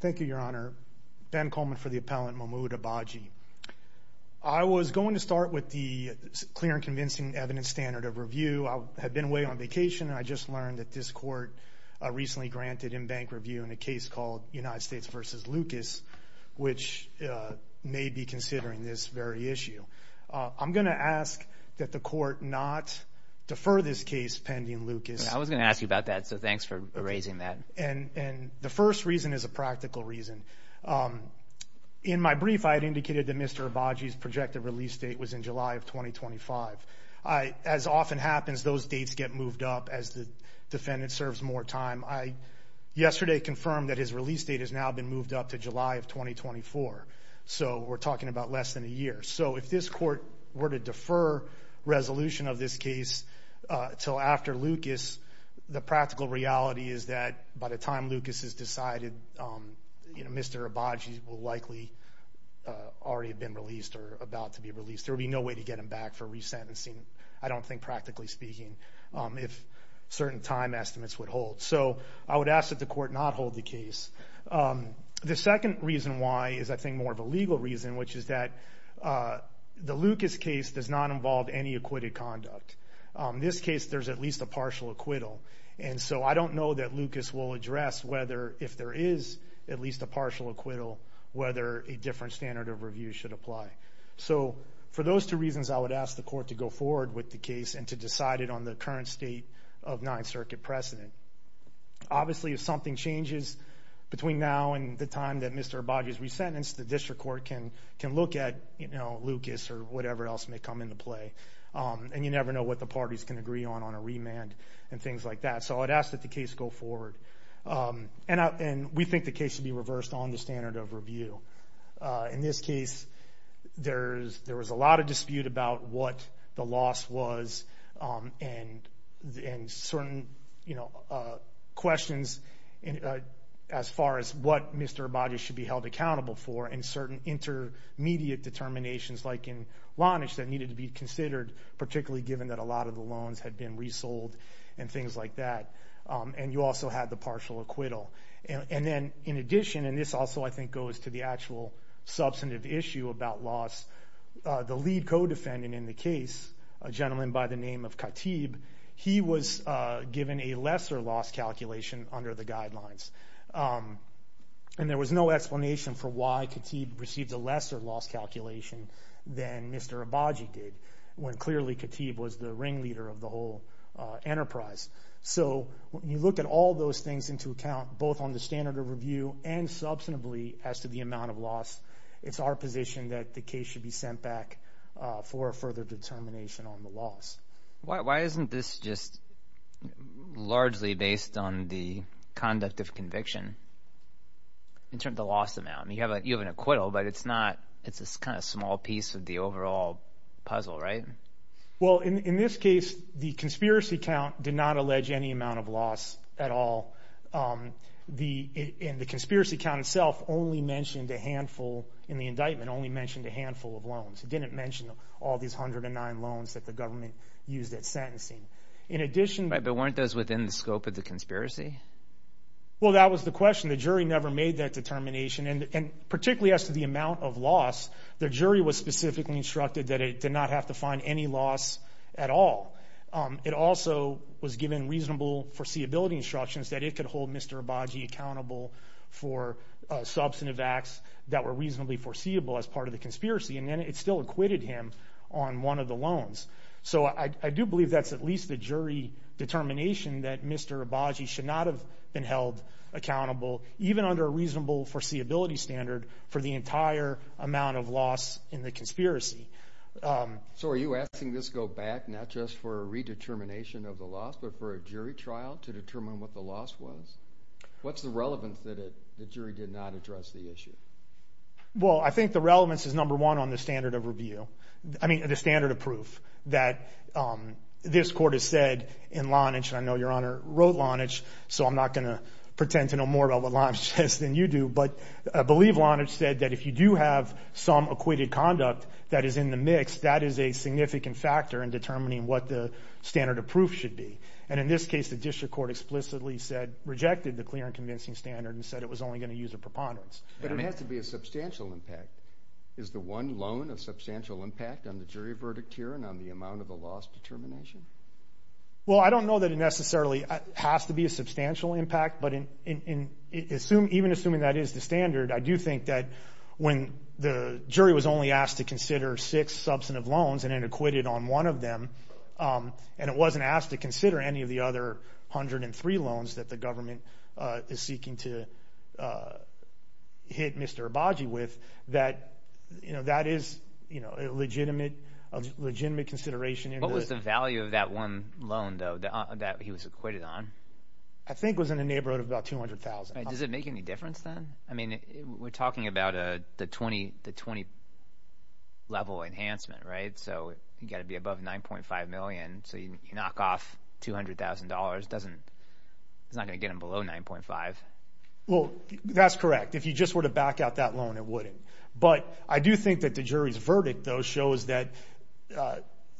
Thank you, Your Honor. Ben Coleman for the appellant, Momoud Abaji. I was going to start with the clear and convincing evidence standard of review. I had been away on vacation and I just learned that this court recently granted in-bank review in a case called United States v. Lucas, which may be considering this very issue. I'm going to ask that the court not defer this case pending Lucas. I was going to ask you about that, so thanks for raising that. And the first reason is a practical reason. In my brief, I had indicated that Mr. Abaji's projected release date was in July of 2025. As often happens, those dates get moved up as the defendant serves more time. I yesterday confirmed that his release date has now been moved up to July of 2024, so we're talking about less than a year. So after Lucas, the practical reality is that by the time Lucas is decided, Mr. Abaji will likely already have been released or about to be released. There will be no way to get him back for resentencing, I don't think, practically speaking, if certain time estimates would hold. So I would ask that the court not hold the case. The second reason why is, I think, more of a legal reason, which is that the Lucas case does not involve any acquitted conduct. In this case, there's at least a partial acquittal, and so I don't know that Lucas will address whether, if there is at least a partial acquittal, whether a different standard of review should apply. So for those two reasons, I would ask the court to go forward with the case and to decide it on the current state of Ninth Circuit precedent. Obviously, if something changes between now and the time that Mr. Abaji is resentenced, the district court can look at Lucas or whatever else may come into play, and you never know what the parties can agree on on a remand and things like that. So I would ask that the case go forward. And we think the case should be reversed on the standard of review. In this case, there was a lot of dispute about what the loss was and certain questions as far as what Mr. Abaji should be held accountable for and certain intermediate determinations like in Lanish that needed to be considered, particularly given that a lot of the loans had been resold and things like that. And you also had the partial acquittal. And then, in addition, and this also, I think, goes to the actual substantive issue about loss, the lead co-defendant in the case, a gentleman by the name of Khatib, he was given a lesser loss calculation under the guidelines. And there was no explanation for why Khatib received a lesser loss calculation than Mr. Abaji did, when clearly Khatib was the ringleader of the whole enterprise. So when you look at all those things into account, both on the standard of review and substantively as to the amount of loss, it's our position that the case should be sent back for a further determination on the loss. Why isn't this just largely based on the conduct of conviction in terms of the loss amount? I mean, you have an acquittal, but it's not, it's this kind of small piece of the overall puzzle, right? Well, in this case, the conspiracy count did not allege any amount of loss at all. And the conspiracy count itself only mentioned a handful, in the indictment, only mentioned a handful of loans. It didn't mention all these 109 loans that the government used at sentencing. In addition- Right, but weren't those within the scope of the conspiracy? Well, that was the question. The jury never made that determination. And particularly as to the amount of loss, the jury was specifically instructed that it did not have to find any loss at all. It also was given reasonable foreseeability instructions that it could hold Mr. Abaji accountable for substantive acts that were reasonably foreseeable as part of the conspiracy. And then it still acquitted him on one of the loans. So I do believe that's at least the jury determination that Mr. Abaji should not have been held accountable, even under a reasonable foreseeability standard, for the entire amount of loss in the conspiracy. So are you asking this to go back, not just for a redetermination of the loss, but for a jury trial to determine what the loss was? What's the relevance that the jury did not address the issue? Well, I think the relevance is, number one, on the standard of review. I mean, the standard of proof that this court has said in Lonage, and I know Your Honor wrote Lonage, so I'm not going to pretend to know more about what Lonage says than you do. But I believe Lonage said that if you do have some acquitted conduct that is in the mix, that is a significant factor in determining what the standard of proof should be. And in this case, the district court explicitly said, rejected the clear and convincing standard and said it was only going to use a preponderance. But it has to be a substantial impact. Is the one loan a substantial impact on the jury verdict here and on the amount of the loss determination? Well, I don't know that it necessarily has to be a substantial impact, but even assuming that is the standard, I do think that when the jury was only asked to consider six substantive loans and it acquitted on one of them, and it wasn't asked to consider any of the other 103 loans that the government is seeking to hit Mr. Abadji with, that is a legitimate consideration. What was the value of that one loan, though, that he was acquitted on? I think it was in the neighborhood of about $200,000. Does it make any difference then? I mean, we're talking about the 20 level enhancement, right? So you've got to be above $9.5 million. So you knock off $200,000. It's not going to get him below $9.5 million. Well, that's correct. If you just were to back out that loan, it wouldn't. But I do think that the jury's verdict, though, shows that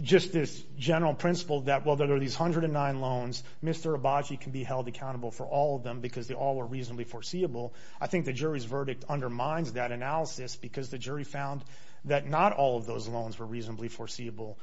just this general principle that, well, there are these 109 loans. Mr. Abadji can be held accountable for all of them because they all were reasonably foreseeable. I think the jury's verdict undermines that analysis because the jury found that not all of those loans were reasonably foreseeable.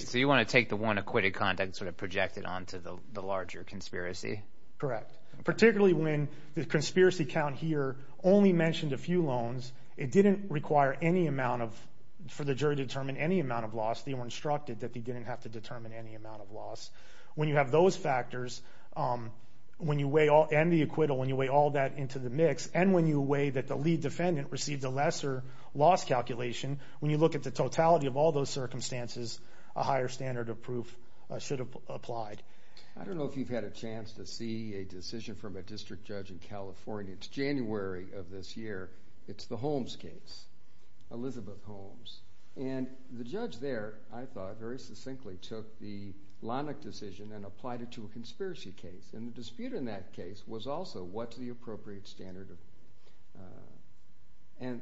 So you want to take the one acquitted conduct and sort of project it onto the larger conspiracy? Correct. Particularly when the conspiracy count here only mentioned a few loans, it didn't require any amount of, for the jury to determine any amount of loss. They were instructed that they didn't have to determine any amount of loss. When you have those factors, when you weigh all, and the acquittal, when you weigh all that into the mix, and when you weigh that the lead defendant received a lesser loss calculation, when you look at the totality of all those circumstances, a higher standard of proof should have applied. I don't know if you've had a chance to see a decision from a district judge in California. It's January of this year. It's the Holmes case, Elizabeth Holmes. And the judge there, I thought, very succinctly took the Lonick decision and applied it to a conspiracy case. And the dispute in that case was also what's the appropriate standard of proof. And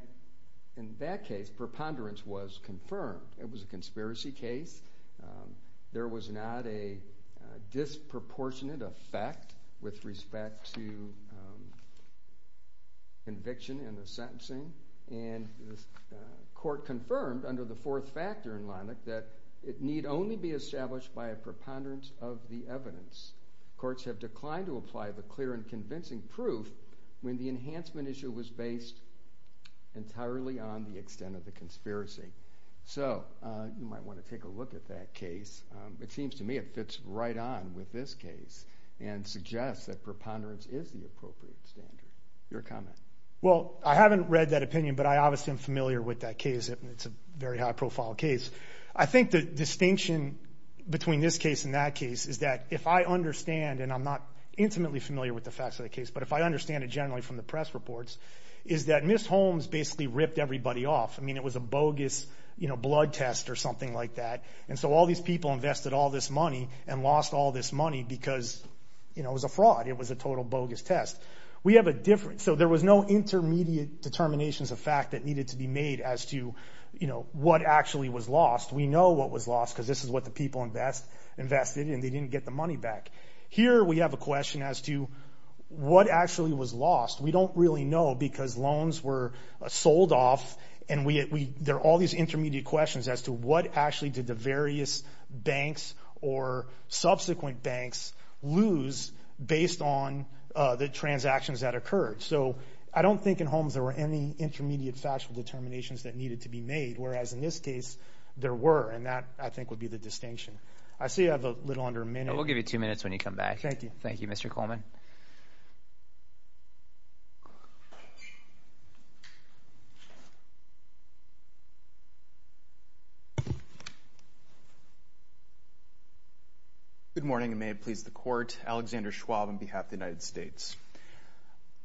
in that case, preponderance was confirmed. It was a conspiracy case. There was not a disproportionate effect with respect to conviction in the sentencing. And the court confirmed under the fourth factor in Lonick that it need only be established by a preponderance of the evidence. Courts have declined to apply the clear and convincing proof when the enhancement issue was based entirely on the extent of the conspiracy. So you might want to take a look at that case. It seems to me it fits right on with this case and suggests that preponderance is the appropriate standard. Your comment? Well, I haven't read that opinion, but I obviously am familiar with that case. It's a very high profile case. I think the distinction between this case and that case is that if I understand, and I'm not intimately familiar with the facts of the case, but if I understand it generally from the press reports, is that Ms. Holmes basically ripped everybody off. I mean, it was a bogus blood test or something like that. And so all these people invested all this money and lost all this money because it was a fraud. It was a total bogus test. We have a difference. So there was no intermediate determinations of fact that needed to be made as to what actually was lost. We know what was lost because this is what the people invested and they didn't get the money back. Here we have a question as to what actually was lost. We don't really know because loans were sold off and there are all these intermediate questions as to what actually did the various banks or subsequent banks lose based on the transactions that occurred. So I don't think in Holmes there were any intermediate factual determinations that needed to be made, whereas in this case there were, and that I think would be the little under a minute. We'll give you two minutes when you come back. Thank you. Thank you Mr. Coleman. Good morning and may it please the court. Alexander Schwab on behalf of the United States.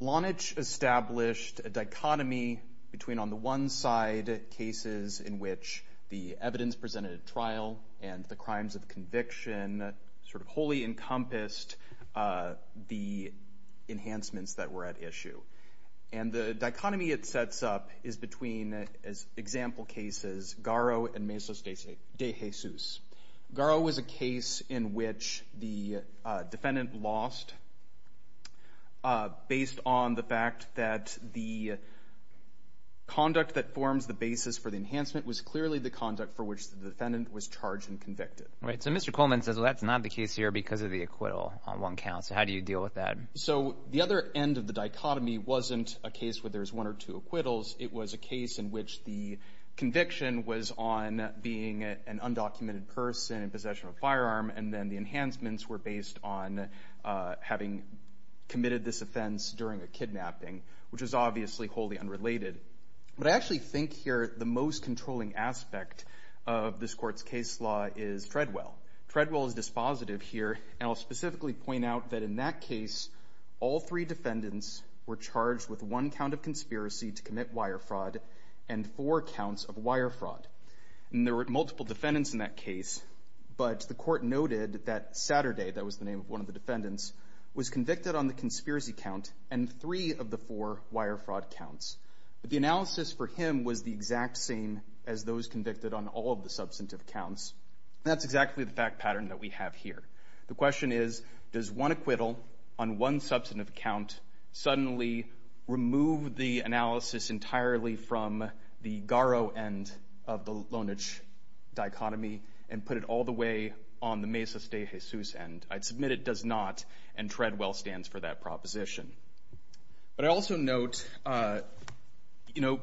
Blanich established a dichotomy between on the one side cases in which the defendant had been sort of wholly encompassed the enhancements that were at issue. And the dichotomy it sets up is between, as example cases, Garrow and Mesos de Jesus. Garrow was a case in which the defendant lost based on the fact that the conduct that forms the basis for the enhancement was clearly the conduct for which the defendant was charged and convicted. Right. So Mr. Coleman says, well, that's not the case here because of the acquittal on one count. So how do you deal with that? So the other end of the dichotomy wasn't a case where there's one or two acquittals. It was a case in which the conviction was on being an undocumented person in possession of a firearm. And then the enhancements were based on having committed this offense during a kidnapping, which is obviously wholly unrelated. But I actually think here the most controlling aspect of this court's case law is Treadwell. Treadwell is dispositive here. And I'll specifically point out that in that case, all three defendants were charged with one count of conspiracy to commit wire fraud and four counts of wire fraud. And there were multiple defendants in that case. But the court noted that Saturday, that was the name of one of the defendants, was convicted on the conspiracy count and three of the four wire fraud counts. But the analysis for him was the exact same as those convicted on all of the substantive counts. That's exactly the fact pattern that we have here. The question is, does one acquittal on one substantive count suddenly remove the analysis entirely from the GARO end of the loanage dichotomy and put it all the way on the Mesas de Jesus end? I'd submit it does not, and Treadwell stands for that proposition. But I also note, you know,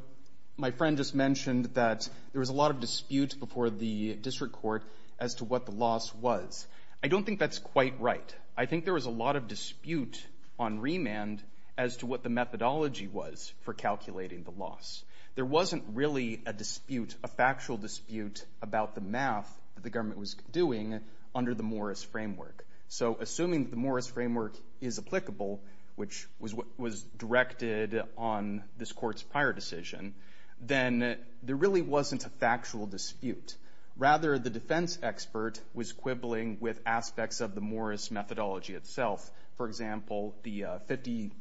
my friend just mentioned that there was a lot of dispute before the district court as to what the loss was. I don't think that's quite right. I think there was a lot of dispute on remand as to what the methodology was for calculating the loss. There wasn't really a dispute, a factual dispute, about the math that the government was doing under the Morris framework. So assuming the Morris framework is applicable, which was what was directed on this court's prior decision, then there really wasn't a factual dispute. Rather, the defense expert was quibbling with aspects of the Morris methodology itself. For example, the 50,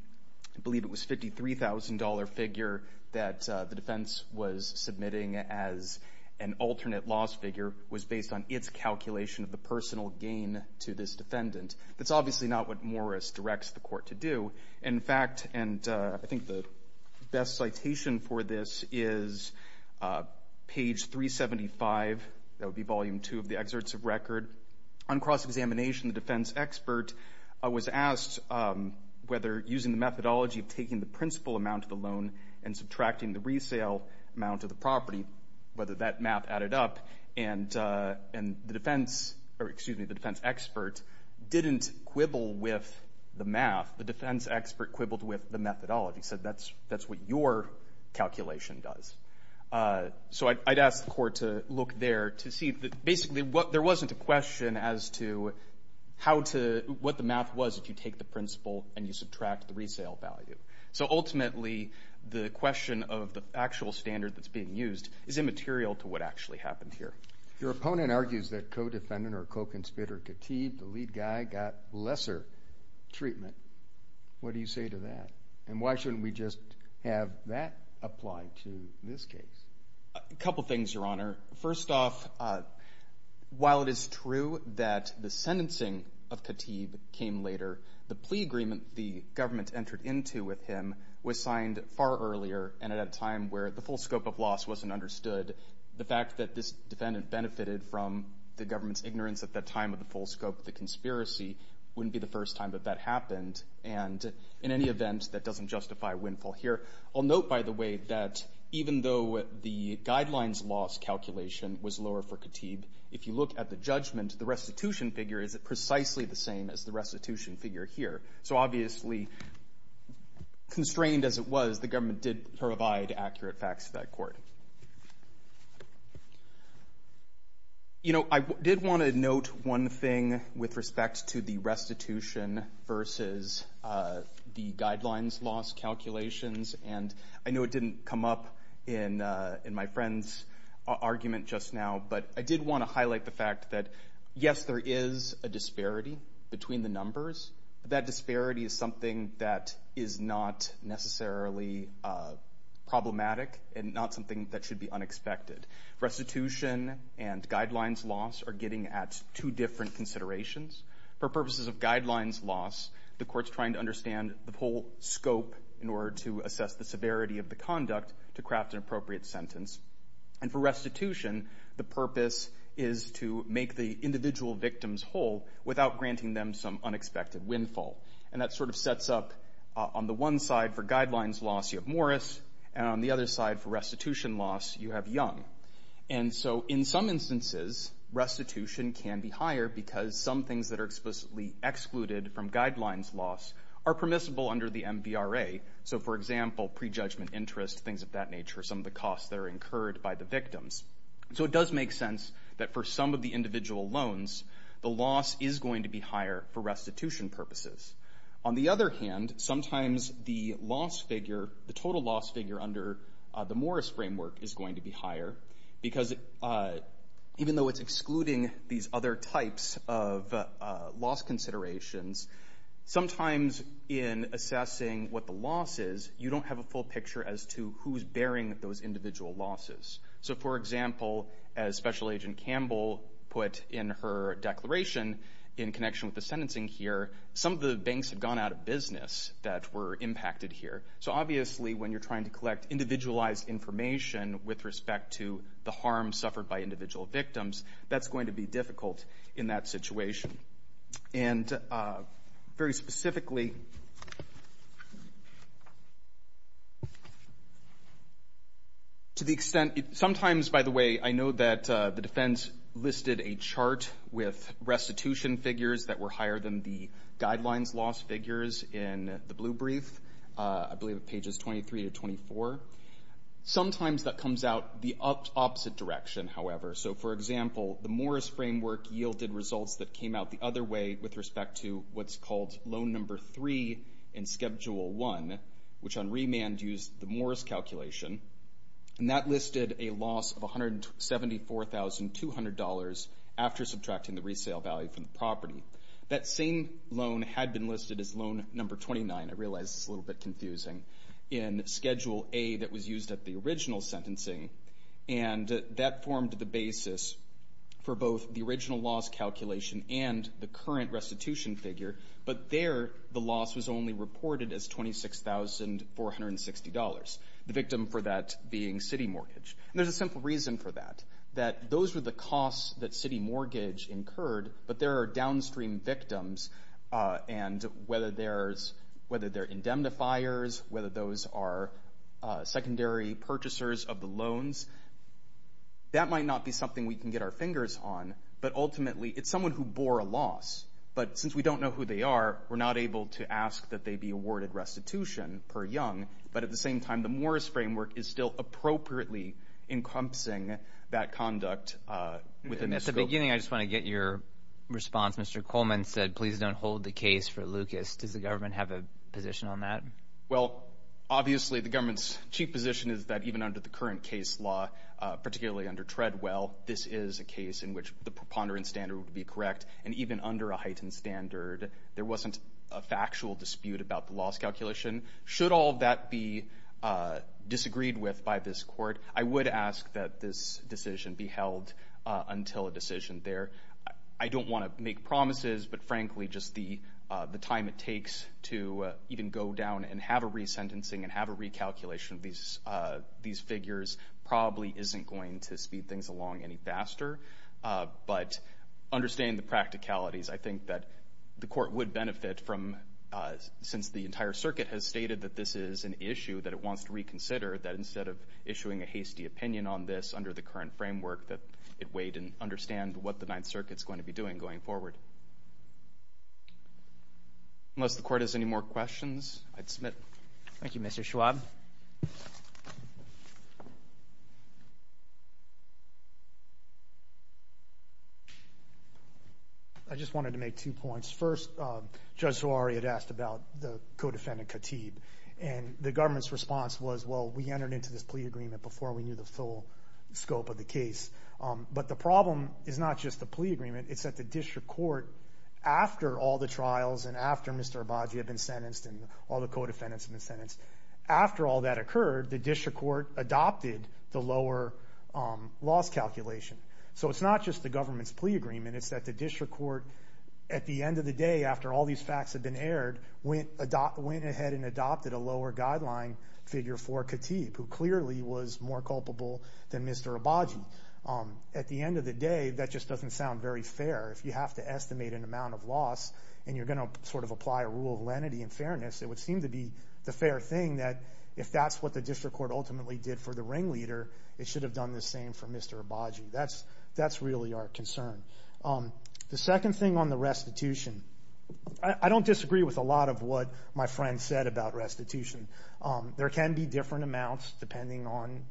I believe it was $53,000 figure that the defense was submitting as an alternate loss figure was based on its calculation of the personal gain to this defendant. That's obviously not what Morris directs the court to do. In fact, and I think the best citation for this is page 375, that would be volume two of the excerpts of record. On cross-examination, the defense expert was asked whether using the methodology of taking the principal amount of the loan and subtracting the resale amount of the property, whether that math added up. And the defense expert didn't quibble with the math. The defense expert quibbled with the methodology, said that's what your calculation does. So I'd ask the court to look there to see. Basically, there wasn't a question as to what the math was if you take the principal and you subtract the resale value. So ultimately, the question of the actual standard that's being used is immaterial to what actually happened here. Your opponent argues that co-defendant or co-conspirator Khatib, the lead guy, got lesser treatment. What do you say to that? And why shouldn't we just have that apply to this case? A couple things, Your Honor. First off, while it is true that the sentencing of Khatib came later, the plea agreement the government entered into with him was signed far earlier and at a time where the full scope of loss wasn't understood. The fact that this defendant benefited from the government's ignorance at that time of the full scope of the conspiracy wouldn't be the first time that that happened. And in any event, that doesn't justify a windfall here. I'll note, by the way, that even though the guidelines loss calculation was lower for Khatib, if you look at the judgment, the restitution figure is precisely the same as the restitution figure here. So obviously, constrained as it was, the government did provide accurate facts to that court. You know, I did want to note one thing with respect to the restitution versus the guidelines loss calculations, and I know it didn't come up in my friend's argument just now, but I did want to highlight the fact that, yes, there is a disparity between the numbers. That disparity is something that is not necessarily problematic and not something that should be unexpected. Restitution and guidelines loss are getting at two different considerations. For purposes of guidelines loss, the court's trying to understand the full scope in order to assess the severity of the conduct to craft an appropriate sentence. And for restitution, the purpose is to make the individual victims whole without granting them some unexpected windfall. And that sort of sets up, on the one side for guidelines loss, you have Morris, and on the other side for restitution loss, you have Young. And so in some instances, restitution can be higher because some things that are explicitly excluded from guidelines loss are permissible under the MVRA. So for example, prejudgment interest, things of that nature, some of the costs that are incurred by the victims. So it does make sense that for some of the individual loans, the loss is going to be higher for restitution purposes. On the other hand, sometimes the loss figure, the total loss figure under the Morris framework is going to be higher because even though it's excluding these other types of loss considerations, sometimes in assessing what the loss is, you don't have a full picture as to who's bearing those individual losses. So for example, as Special Agent Campbell put in her declaration in connection with the sentencing here, some of the banks had gone out of business that were impacted here. So obviously when you're trying to collect individualized information with respect to the harm suffered by individual victims, that's going to be difficult in that situation. And very specifically, to the extent, sometimes by the way, I know that the defense listed a chart with restitution figures that were higher than the guidelines loss figures in the blue brief, I believe at pages 23 to 24. Sometimes that comes out the opposite direction, however. So for example, the Morris framework yielded results that came out the other way with respect to what's called loan number three in schedule one, which on remand used the Morris calculation. And that listed a $274,200 after subtracting the resale value from the property. That same loan had been listed as loan number 29, I realize it's a little bit confusing, in schedule A that was used at the original sentencing. And that formed the basis for both the original loss calculation and the current restitution figure. But there, the loss was only reported as $26,460, the victim for that being city mortgage. And there's a simple reason for that, that those were the costs that city mortgage incurred, but there are downstream victims. And whether they're indemnifiers, whether those are secondary purchasers of the loans, that might not be something we can get our fingers on. But ultimately, it's someone who bore a loss. But since we don't know who they are, we're not able to ask that they be awarded restitution per young. But at the same time, the Morris framework is still appropriately encompassing that conduct within this scope. And at the beginning, I just want to get your response. Mr. Coleman said, please don't hold the case for Lucas. Does the government have a position on that? Well, obviously, the government's chief position is that even under the current case law, particularly under Treadwell, this is a case in which the preponderance standard would be correct. And even under a heightened standard, there wasn't a factual dispute about the loss calculation. Should all that be disagreed with by this court, I would ask that this decision be held until a decision there. I don't want to make promises, but frankly, just the time it takes to even go down and have a resentencing and have a recalculation of these figures probably isn't going to speed things along any faster. But understand the practicalities. I think that the court would benefit from, since the court has stated that this is an issue that it wants to reconsider, that instead of issuing a hasty opinion on this under the current framework, that it wait and understand what the Ninth Circuit's going to be doing going forward. Unless the court has any more questions, I'd submit. Thank you, Mr. Schwab. I just wanted to make two points. First, Judge Zawahiri had asked about the co-defendant Khatib. And the government's response was, well, we entered into this plea agreement before we knew the full scope of the case. But the problem is not just the plea agreement, it's that the district court, after all the trials and after Mr. Abadji had been sentenced and all the co-defendants had been sentenced, after all that occurred, the district court adopted the lower loss calculation. So it's not just the government's plea agreement, it's that the district court, at the end of the day, after all these facts had been aired, went ahead and adopted a lower guideline figure for Khatib, who clearly was more culpable than Mr. Abadji. At the end of the day, that just doesn't sound very fair. If you have to estimate an amount of loss and you're going to sort of apply a rule of lenity and fairness, it would seem to be the fair thing that if that's what the district court ultimately did for the ringleader, it should have done the same for Mr. Abadji. That's really our concern. The second thing on the restitution, I don't disagree with a lot of what my friend said about restitution. There can be different amounts depending on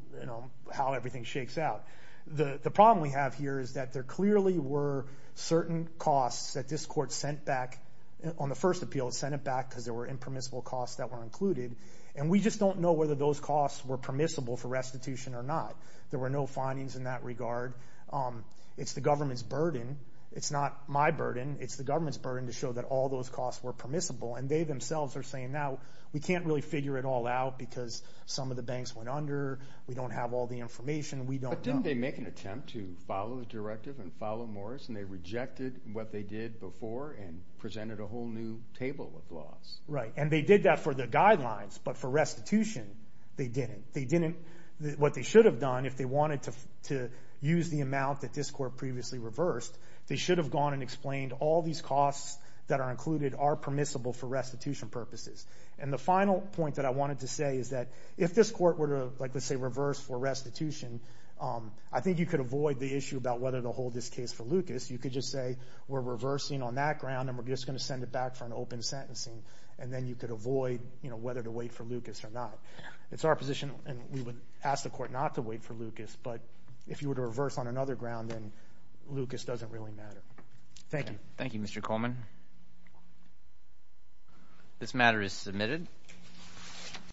how everything shakes out. The problem we have here is that there clearly were certain costs that this court sent back on the first appeal. It sent it back because there were impermissible costs that were included. And we just don't know whether those costs were permissible for restitution or not. There were no findings in that regard. It's the government's burden. It's not my burden. It's the government's burden to show that all those costs were permissible. And they themselves are saying now, we can't really figure it all out because some of the banks went under. We don't have all the information. We don't know. But didn't they make an attempt to follow the directive and follow Morris and they rejected what they did before and presented a whole new table of laws? Right. And they did that for the guidelines. But for restitution, they didn't. What they should have done if they wanted to use the amount that this court previously reversed, they should have gone and explained all these costs that are included are permissible for restitution purposes. And the final point that I wanted to say is that if this court were to, let's say, reverse for restitution, I think you could avoid the issue about whether to hold this case for Lucas. You could just say we're reversing on that ground and we're just going to send it back for an open sentencing. And then you could avoid whether to wait for Lucas or not. It's our position. And we would ask the court not to wait for Lucas. But if you were to reverse on another ground, then Lucas doesn't really matter. Thank you. Thank you, Mr. Coleman. This matter is submitted.